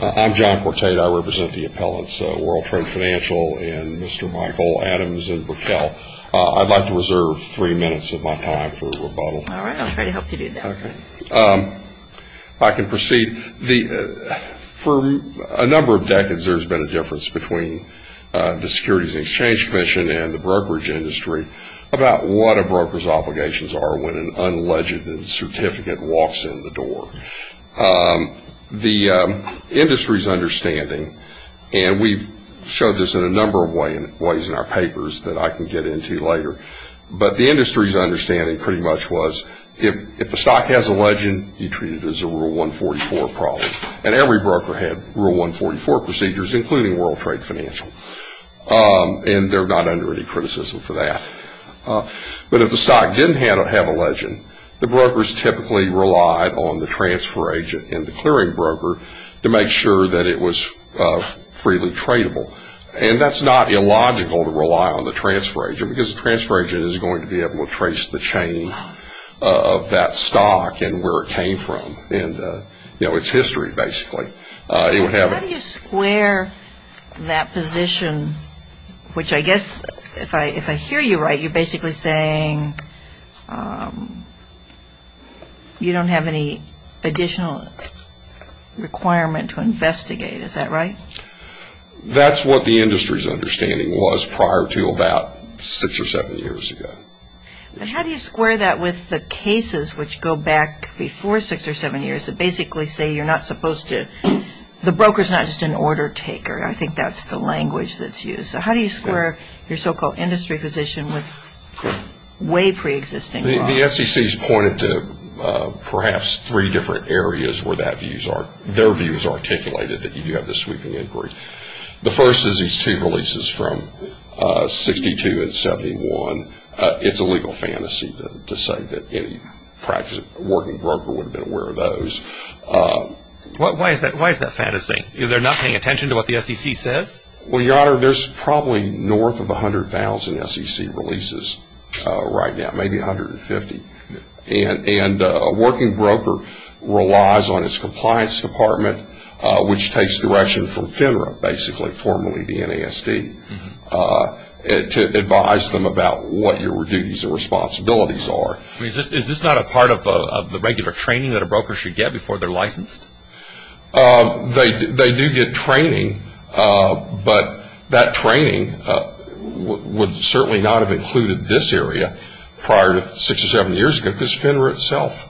I'm John Quartade. I represent the appellants, World Trade Financial and Mr. Michael Adams in Brickell. I'd like to reserve three minutes of my time for rebuttal. All right. I'm here to help you do that. Okay. I can proceed. For a number of decades, there's been a difference between the Securities and Exchange Commission and the brokerage industry about what a broker's obligations are when an unledged certificate walks in the door. The industry's understanding, and we've showed this in a number of ways in our papers that I can get into later, but the industry's understanding pretty much was if the stock has a legend, you treat it as a Rule 144 problem. And every broker had Rule 144 procedures, including World Trade Financial, and they're not under any criticism for that. But if the stock didn't have a legend, the brokers typically relied on the transfer agent and the clearing broker to make sure that it was freely tradable. And that's not illogical to rely on the transfer agent, because the transfer agent is going to be able to trace the chain of that stock and where it came from and, you know, its history, basically. How do you square that position, which I guess if I hear you right, you're basically saying you don't have any additional requirement to investigate. Is that right? That's what the industry's understanding was prior to about six or seven years ago. How do you square that with the cases which go back before six or seven years that basically say you're not supposed to – the broker's not just an order taker. I think that's the language that's used. So how do you square your so-called industry position with way preexisting laws? The SEC's pointed to perhaps three different areas where their views are articulated that you have the sweeping inquiry. The first is these two releases from 62 and 71. It's a legal fantasy to say that any working broker would have been aware of those. Why is that fantasy? They're not paying attention to what the SEC says? Well, Your Honor, there's probably north of 100,000 SEC releases right now, maybe 150. And a working broker relies on its compliance department, which takes direction from FINRA, basically formerly the NASD, to advise them about what your duties and responsibilities are. I mean, is this not a part of the regular training that a broker should get before they're licensed? They do get training, but that training would certainly not have included this area prior to six or seven years ago, because FINRA itself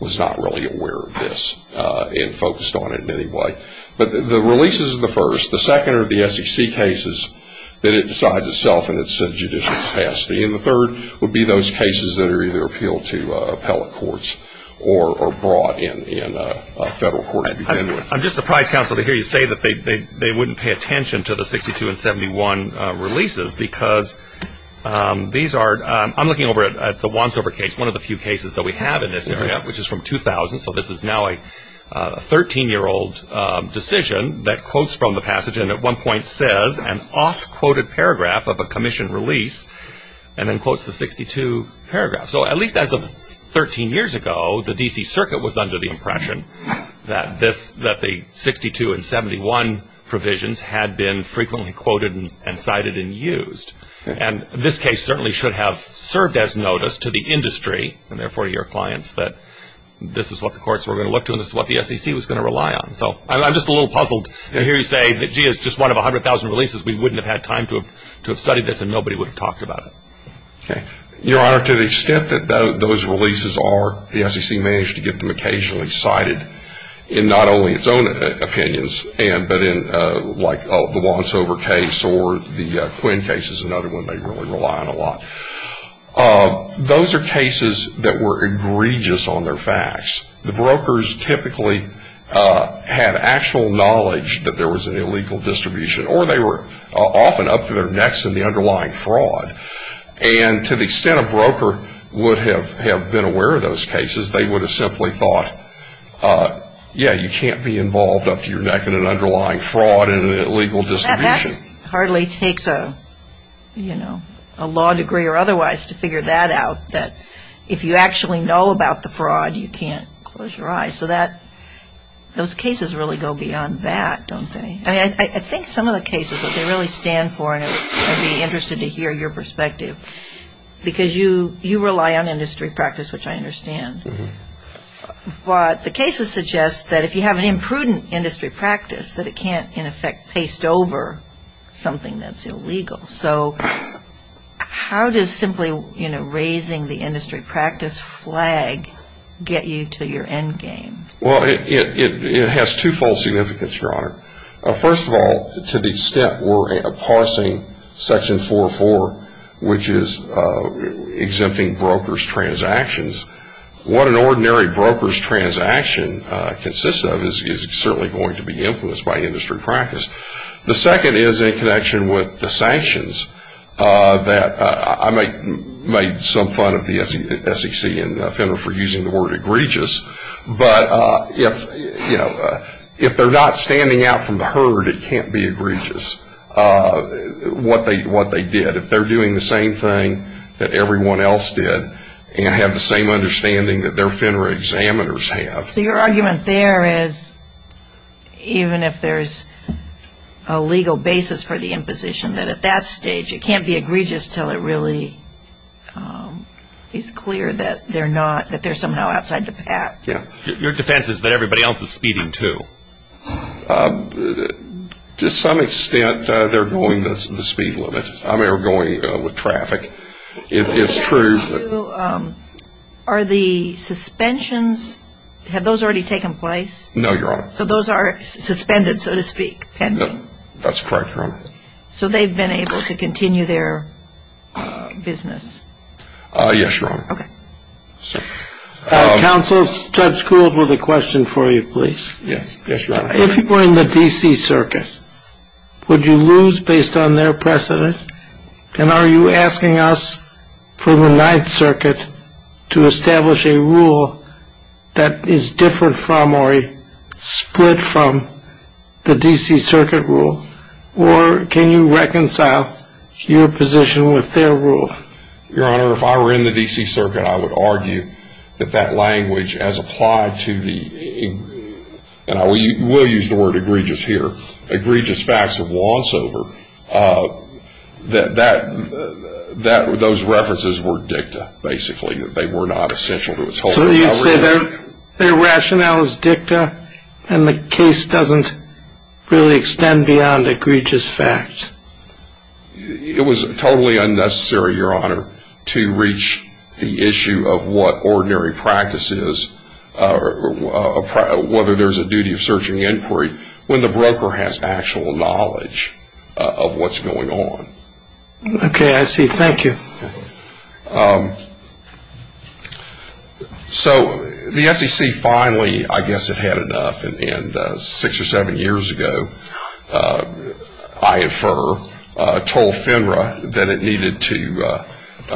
was not really aware of this and focused on it in any way. But the releases are the first. The second are the SEC cases that it decides itself in its judicial capacity. And the third would be those cases that are either appealed to appellate courts or brought in federal courts. I'm just surprised, counsel, to hear you say that they wouldn't pay attention to the 62 and 71 releases, because these are – I'm looking over at the Wansover case, one of the few cases that we have in this area, which is from 2000. So this is now a 13-year-old decision that quotes from the passage and at one point says an off-quoted paragraph of a commission release and then quotes the 62 paragraph. So at least as of 13 years ago, the D.C. Circuit was under the impression that this – that the 62 and 71 provisions had been frequently quoted and cited and used. And this case certainly should have served as notice to the industry, and therefore your clients, that this is what the courts were going to look to and this is what the SEC was going to rely on. So I'm just a little puzzled to hear you say that, gee, it's just one of 100,000 releases. We wouldn't have had time to have studied this and nobody would have talked about it. Okay. Your Honor, to the extent that those releases are, the SEC managed to get them occasionally cited in not only its own opinions, but in like the Wansover case or the Quinn case is another one they really rely on a lot. Those are cases that were egregious on their facts. The brokers typically had actual knowledge that there was an illegal distribution or they were often up to their necks in the underlying fraud. And to the extent a broker would have been aware of those cases, they would have simply thought, yeah, you can't be involved up to your neck in an underlying fraud and an illegal distribution. That hardly takes a law degree or otherwise to figure that out, that if you actually know about the fraud, you can't close your eyes. So those cases really go beyond that, don't they? I think some of the cases that they really stand for, and I'd be interested to hear your perspective, because you rely on industry practice, which I understand. But the cases suggest that if you have an imprudent industry practice, that it can't, in effect, paste over something that's illegal. So how does simply raising the industry practice flag get you to your end game? Well, it has twofold significance, Your Honor. First of all, to the extent we're parsing Section 4.4, which is exempting brokers' transactions, what an ordinary broker's transaction consists of is certainly going to be influenced by industry practice. The second is in connection with the sanctions that I made some fun of the SEC and the defendant for using the word egregious, but if they're not standing out from the herd, it can't be egregious what they did. If they're doing the same thing that everyone else did and have the same understanding that their FINRA examiners have. So your argument there is, even if there's a legal basis for the imposition, that at that stage it can't be egregious until it really is clear that they're somehow outside the pack. Yeah. Your defense is that everybody else is speeding, too. To some extent, they're going the speed limit. I mean, they're going with traffic. It's true. Are the suspensions, have those already taken place? No, Your Honor. So those are suspended, so to speak, pending? No, that's correct, Your Honor. So they've been able to continue their business? Yes, Your Honor. Okay. Counsel, Judge Gould with a question for you, please. Yes, Your Honor. If you were in the D.C. Circuit, would you lose based on their precedent, and are you asking us for the Ninth Circuit to establish a rule that is different from or split from the D.C. Circuit rule, or can you reconcile your position with their rule? Your Honor, if I were in the D.C. Circuit, I would argue that that language as applied to the we'll use the word egregious here, egregious facts of once over, that those references were dicta, basically. They were not essential to its whole recovery. So you'd say their rationale is dicta, and the case doesn't really extend beyond egregious facts? It was totally unnecessary, Your Honor, to reach the issue of what ordinary practice is, whether there's a duty of searching inquiry when the broker has actual knowledge of what's going on. Okay, I see. Thank you. So the SEC finally, I guess, had had enough, and six or seven years ago, I and Furr told FINRA that it needed to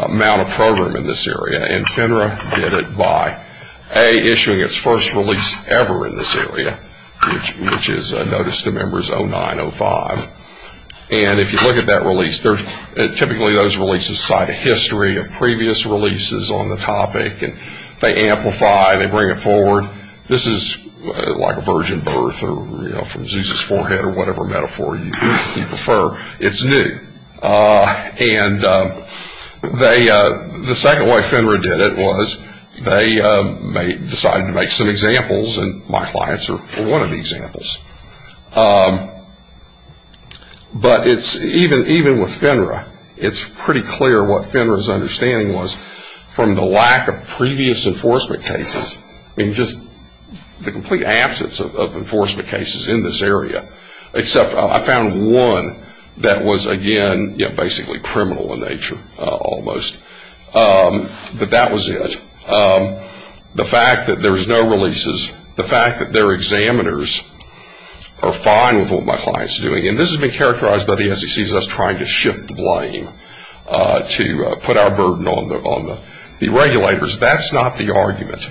mount a program in this area, and FINRA did it by, A, issuing its first release ever in this area, which is Notice to Members 0905. And if you look at that release, typically those releases cite a history of previous releases on the topic, and they amplify, they bring it forward. This is like a virgin birth or from Zeus's forehead or whatever metaphor you prefer. It's new. And the second way FINRA did it was they decided to make some examples, and my clients are one of the examples. But even with FINRA, it's pretty clear what FINRA's understanding was from the lack of previous enforcement cases. I mean, just the complete absence of enforcement cases in this area, except I found one that was, again, basically criminal in nature almost. But that was it. The fact that there's no releases, the fact that their examiners are fine with what my client's doing, and this has been characterized by the SEC as us trying to shift the blame to put our burden on the regulators. That's not the argument.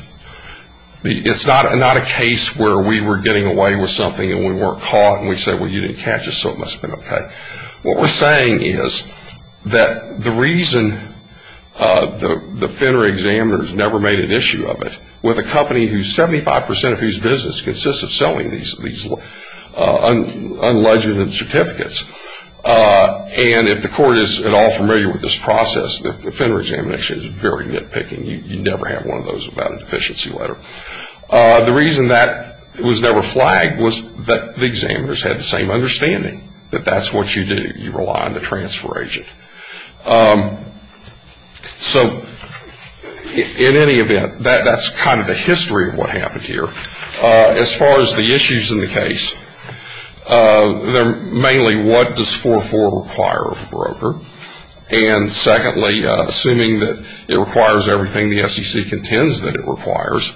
It's not a case where we were getting away with something and we weren't caught and we said, well, you didn't catch us, so it must have been okay. What we're saying is that the reason the FINRA examiners never made an issue of it, with a company whose 75 percent of whose business consists of selling these unlegitimate certificates, and if the court is at all familiar with this process, the FINRA examination is very nitpicking. You never have one of those without a deficiency letter. The reason that was never flagged was that the examiners had the same understanding, that that's what you do. You rely on the transfer agent. So in any event, that's kind of the history of what happened here. As far as the issues in the case, they're mainly what does 404 require of a broker, and secondly, assuming that it requires everything the SEC contends that it requires,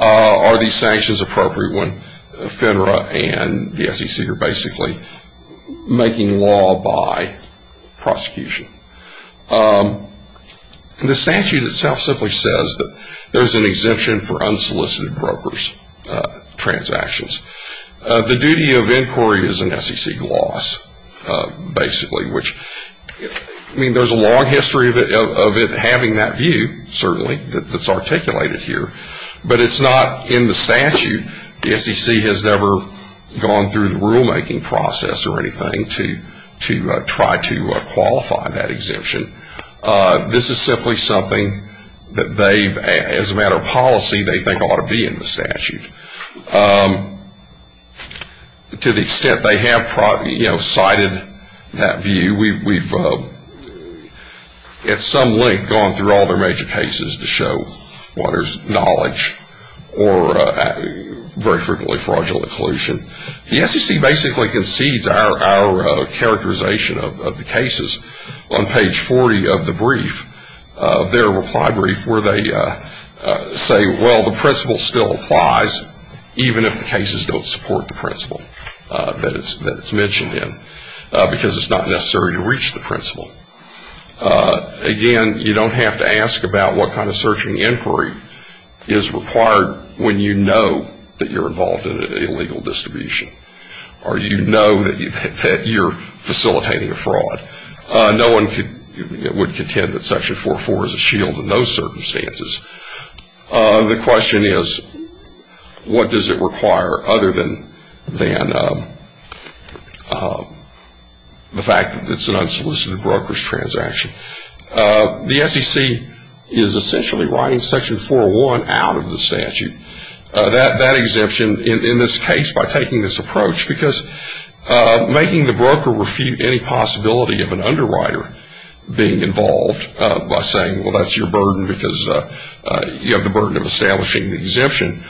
are these sanctions appropriate when FINRA and the SEC are basically making law by prosecution? The statute itself simply says that there's an exemption for unsolicited broker's transactions. The duty of inquiry is an SEC loss, basically, which, I mean, there's a long history of it having that view, certainly, that's articulated here, but it's not in the statute. The SEC has never gone through the rulemaking process or anything to try to qualify that exemption. This is simply something that they, as a matter of policy, they think ought to be in the statute. To the extent they have cited that view, we've at some length gone through all their major cases to show what is knowledge or very frequently fraudulent collusion. The SEC basically concedes our characterization of the cases on page 40 of the brief, their reply brief, where they say, well, the principle still applies, even if the cases don't support the principle that it's mentioned in, because it's not necessary to reach the principle. Again, you don't have to ask about what kind of searching inquiry is required when you know that you're involved in an illegal distribution or you know that you're facilitating a fraud. No one would contend that Section 404 is a shield in those circumstances. The question is, what does it require other than the fact that it's an unsolicited broker's transaction? The SEC is essentially writing Section 401 out of the statute. That exemption, in this case, by taking this approach, because making the broker refute any possibility of an underwriter being involved by saying, well, that's your burden because you have the burden of establishing the exemption.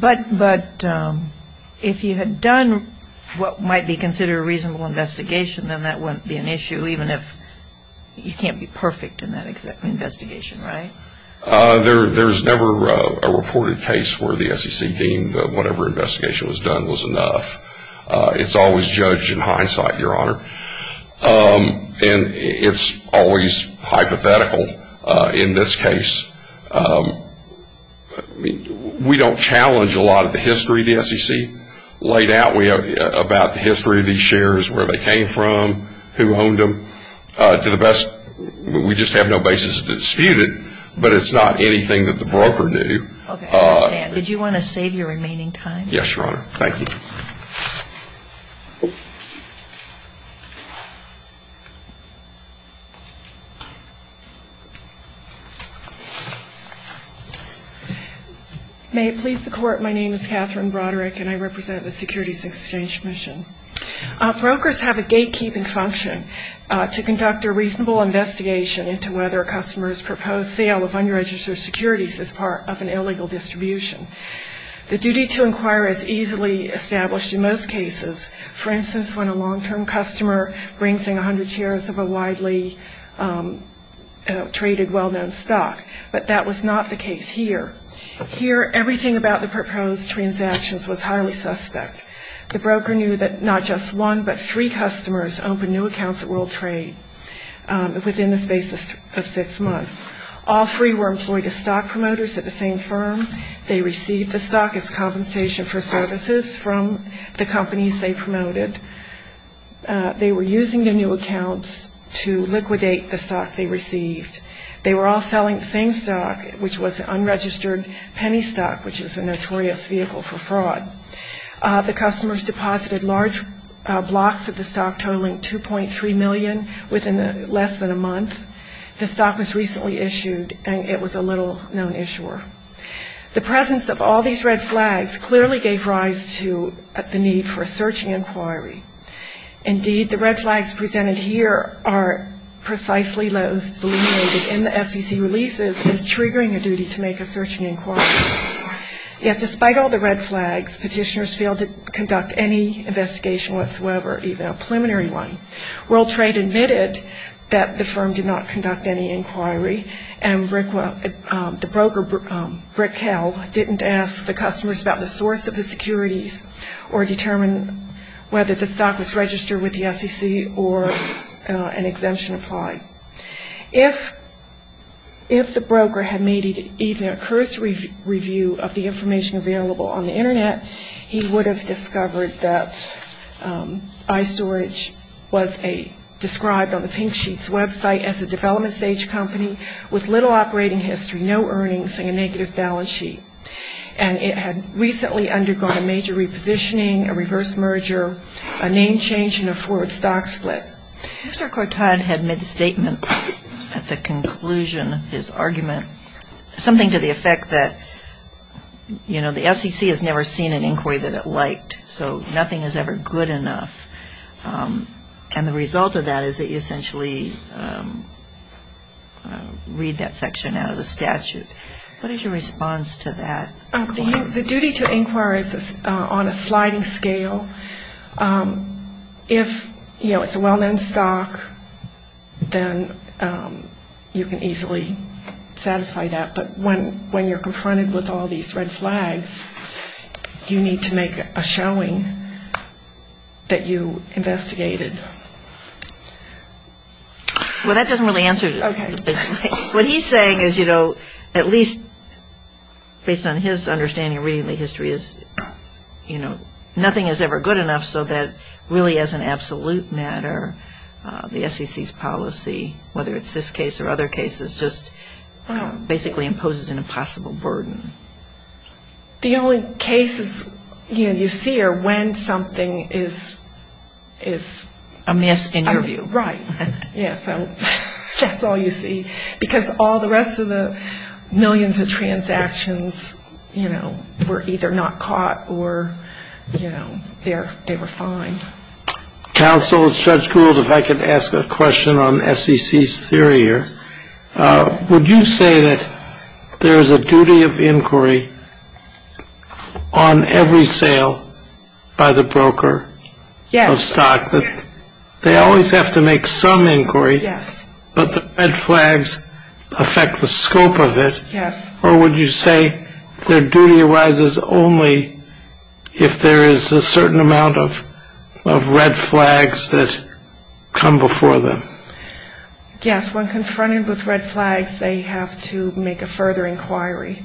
But if you had done what might be considered a reasonable investigation, then that wouldn't be an issue, even if you can't be perfect in that investigation, right? There's never a reported case where the SEC deemed that whatever investigation was done was enough. It's always judged in hindsight, Your Honor. And it's always hypothetical in this case. We don't challenge a lot of the history the SEC laid out about the history of these shares, where they came from, who owned them. To the best, we just have no basis to dispute it, but it's not anything that the broker knew. Okay, I understand. Did you want to save your remaining time? Yes, Your Honor. Thank you. May it please the Court, my name is Catherine Broderick, and I represent the Securities Exchange Commission. Brokers have a gatekeeping function to conduct a reasonable investigation into whether a customer's proposed sale of unregistered securities is part of an illegal distribution. For instance, when a long-term customer brings in 100 shares of a widely traded, well-known stock. But that was not the case here. Here, everything about the proposed transactions was highly suspect. The broker knew that not just one, but three customers opened new accounts at World Trade within the space of six months. All three were employed as stock promoters at the same firm. They received the stock as compensation for services from the companies they promoted. They were using their new accounts to liquidate the stock they received. They were all selling the same stock, which was an unregistered penny stock, which is a notorious vehicle for fraud. The customers deposited large blocks of the stock, totaling $2.3 million within less than a month. The stock was recently issued, and it was a little-known issuer. The presence of all these red flags clearly gave rise to the need for a searching inquiry. Indeed, the red flags presented here are precisely those delineated in the SEC releases as triggering a duty to make a searching inquiry. Yet despite all the red flags, petitioners failed to conduct any investigation whatsoever, even a preliminary one. World Trade admitted that the firm did not conduct any inquiry, and the broker, Brickhell, didn't ask the customers about the source of the securities or determine whether the stock was registered with the SEC or an exemption applied. If the broker had made even a cursory review of the information available on the Internet, he would have discovered that iStorage was described on the pink sheet's website as a development-stage company with little operating history, no earnings, and a negative balance sheet. And it had recently undergone a major repositioning, a reverse merger, a name change, and a forward stock split. Mr. Cortad had made the statement at the conclusion of his argument, something to the effect that, you know, the SEC has never seen an inquiry that it liked, so nothing is ever good enough. And the result of that is that you essentially read that section out of the statute. What is your response to that? The duty to inquire is on a sliding scale. If, you know, it's a well-known stock, then you can easily satisfy that. But when you're confronted with all these red flags, you need to make a showing that you investigated. Well, that doesn't really answer it. What he's saying is, you know, at least based on his understanding of reading the history is, you know, nothing is ever good enough so that really as an absolute matter, the SEC's policy, whether it's this case or other cases, just basically imposes an impossible burden. The only cases, you know, you see are when something is... Amiss, in your view. Right. Yeah, so that's all you see. Because all the rest of the millions of transactions, you know, were either not caught or, you know, they were fine. Counsel, it's Judge Gould. If I could ask a question on SEC's theory here. Would you say that there is a duty of inquiry on every sale by the broker of stock? Yes. They always have to make some inquiry. Yes. But the red flags affect the scope of it. Yes. Or would you say their duty arises only if there is a certain amount of red flags that come before them? Yes, when confronted with red flags, they have to make a further inquiry.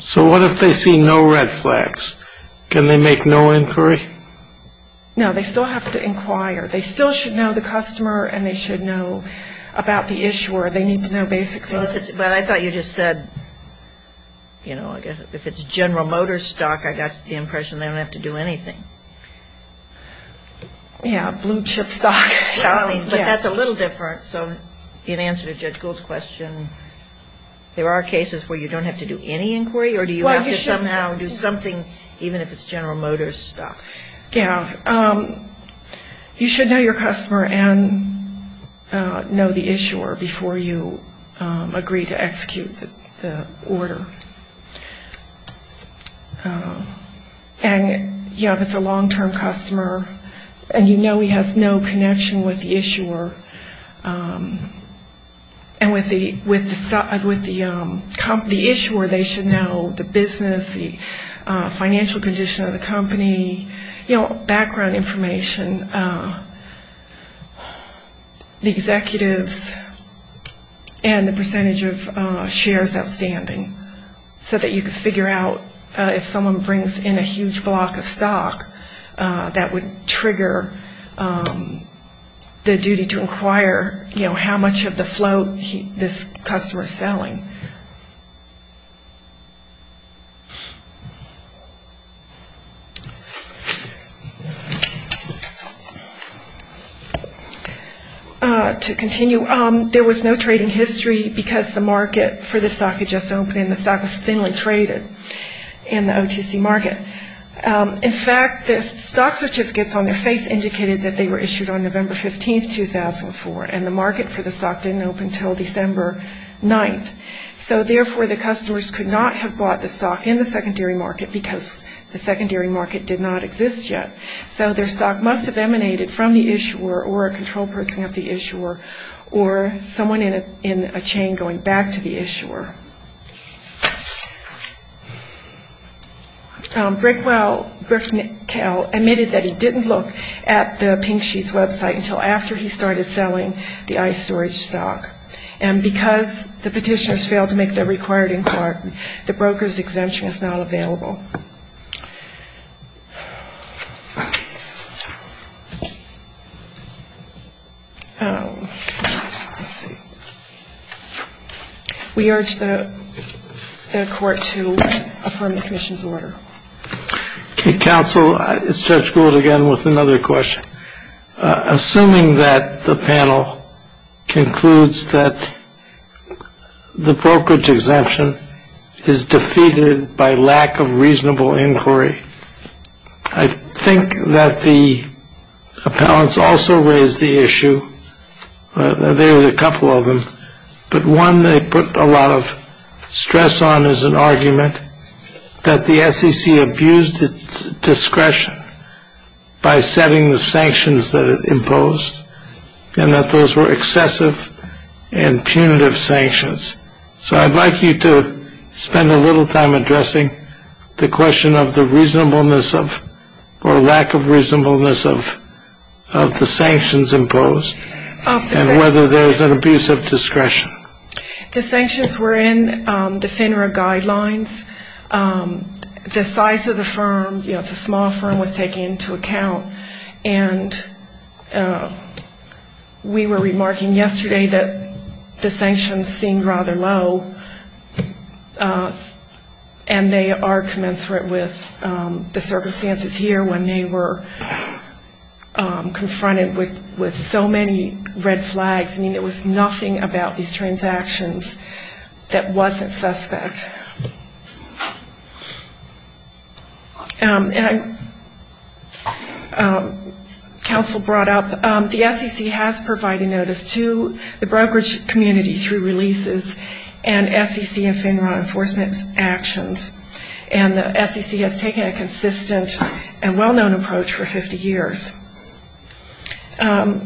So what if they see no red flags? Can they make no inquiry? No, they still have to inquire. They still should know the customer and they should know about the issuer. They need to know basic things. But I thought you just said, you know, if it's General Motors stock, I got the impression they don't have to do anything. Yeah, blue chip stock. But that's a little different. So in answer to Judge Gould's question, there are cases where you don't have to do any inquiry? Or do you have to somehow do something even if it's General Motors stock? Yeah. You should know your customer and know the issuer before you agree to execute the order. And, you know, if it's a long-term customer and you know he has no connection with the issuer, and with the issuer, they should know the business, the financial condition of the company, you know, background information, the executives, and the percentage of shares outstanding so that you can figure out if someone brings in a huge block of stock that would trigger the duty to inquire, you know, how much of the float this customer is selling. To continue, there was no trading history because the market for the stock had just opened and the stock was thinly traded in the OTC market. In fact, the stock certificates on their face indicated that they were issued on November 15th, 2004, and the market for the stock didn't open until December 9th. So therefore, the customers could not have bought the stock in the secondary market because the secondary market did not exist yet. So their stock must have emanated from the issuer or a control person of the issuer or someone in a chain going back to the issuer. Brickwell, Bricknell, admitted that he didn't look at the pink sheets website until after he started selling the ice storage stock. And because the petitioners failed to make the required inquiry, the broker's exemption is not available. We urge the court to affirm the commission's order. Counsel, it's Judge Gould again with another question. Assuming that the panel concludes that the brokerage exemption is defeated by lack of reason and reasonable inquiry, I think that the appellants also raised the issue, there were a couple of them, but one they put a lot of stress on is an argument that the SEC abused its discretion by setting the sanctions that it imposed and that those were excessive and punitive sanctions. So I'd like you to spend a little time addressing the question of the reasonableness of or lack of reasonableness of the sanctions imposed and whether there's an abuse of discretion. The sanctions were in the FINRA guidelines. The size of the firm, you know, it's a small firm, was taken into account. And we were remarking yesterday that the sanctions seemed rather low, and they are commensurate with the circumstances here when they were confronted with so many red flags. I mean, there was nothing about these transactions that wasn't suspect. And counsel brought up the SEC has provided notice to the brokerage community through releases and SEC and FINRA enforcement actions, and the SEC has taken a consistent and well-known approach for 50 years. And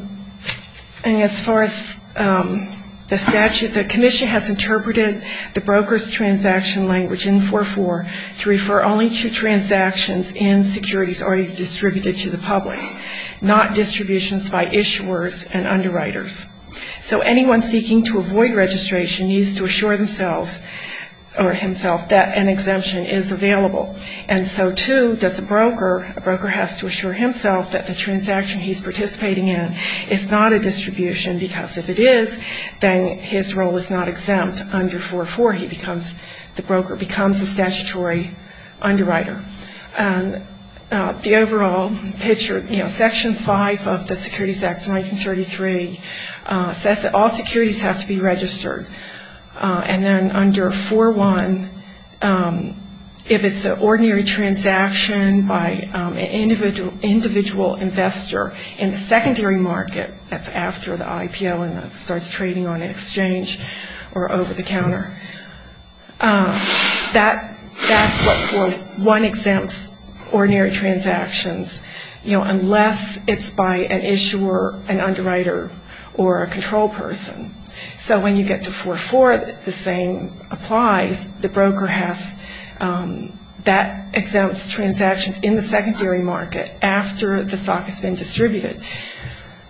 as far as the statute, the commission has interpreted the brokers' transactions language in 4.4 to refer only to transactions in securities already distributed to the public, not distributions by issuers and underwriters. So anyone seeking to avoid registration needs to assure themselves or himself that an exemption is available. And so, too, does a broker, a broker has to assure himself that the transaction he's participating in is not a statutory underwriter. The overall picture, you know, Section 5 of the Securities Act of 1933 says that all securities have to be registered. And then under 4.1, if it's an ordinary transaction by an individual investor in the secondary market, that's after the 4.4, one exempts ordinary transactions, you know, unless it's by an issuer, an underwriter, or a control person. So when you get to 4.4, the same applies. The broker has that exempts transactions in the secondary market after the stock has been distributed.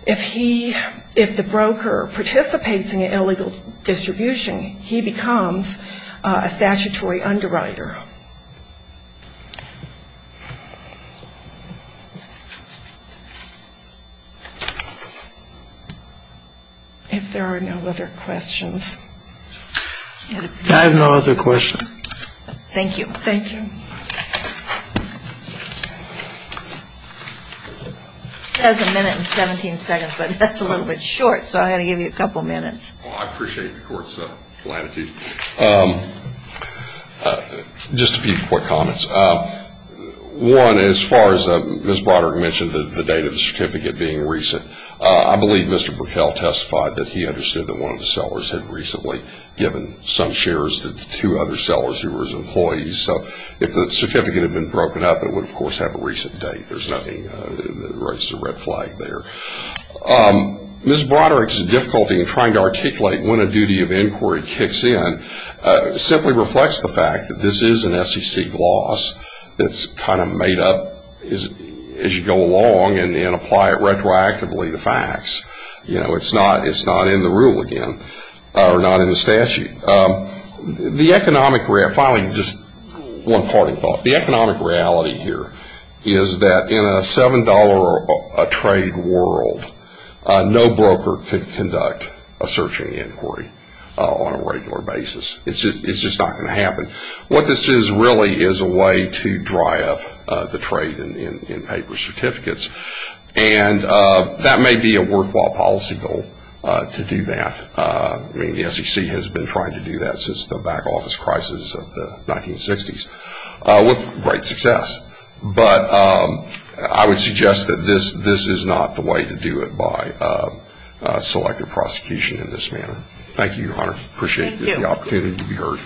If he, if the broker participates in an illegal distribution, he becomes an underwriter. A statutory underwriter. If there are no other questions. I have no other questions. Thank you. Thank you. It says a minute and 17 seconds, but that's a little bit short, so I had to give you a couple minutes. Well, I appreciate the Court's latitude. Just a few quick comments. One, as far as Ms. Broderick mentioned, the date of the certificate being recent, I believe Mr. Brickell testified that he understood that one of the sellers had recently given some shares to two other sellers who were his employees. So if the certificate had been broken up, it would, of course, have a recent date. There's nothing that raises a red flag there. Ms. Broderick's difficulty in trying to articulate when a duty of inquiry kicks in simply reflects the fact that this is an SEC gloss that's kind of made up as you go along and apply it retroactively to facts. It's not in the rule again, or not in the statute. Finally, just one parting thought. The economic reality here is that in a $7 a trade world, no broker can conduct a search and inquiry on a regular basis. It's just not going to happen. What this is really is a way to dry up the trade in paper certificates. And that may be a worthwhile policy goal to do that. I mean, the SEC has been trying to do that since the back office crisis of the 1960s with great success. But I would suggest that this is not the way to do it by selective prosecution in this manner. Thank you, Your Honor. Appreciate the opportunity to be heard.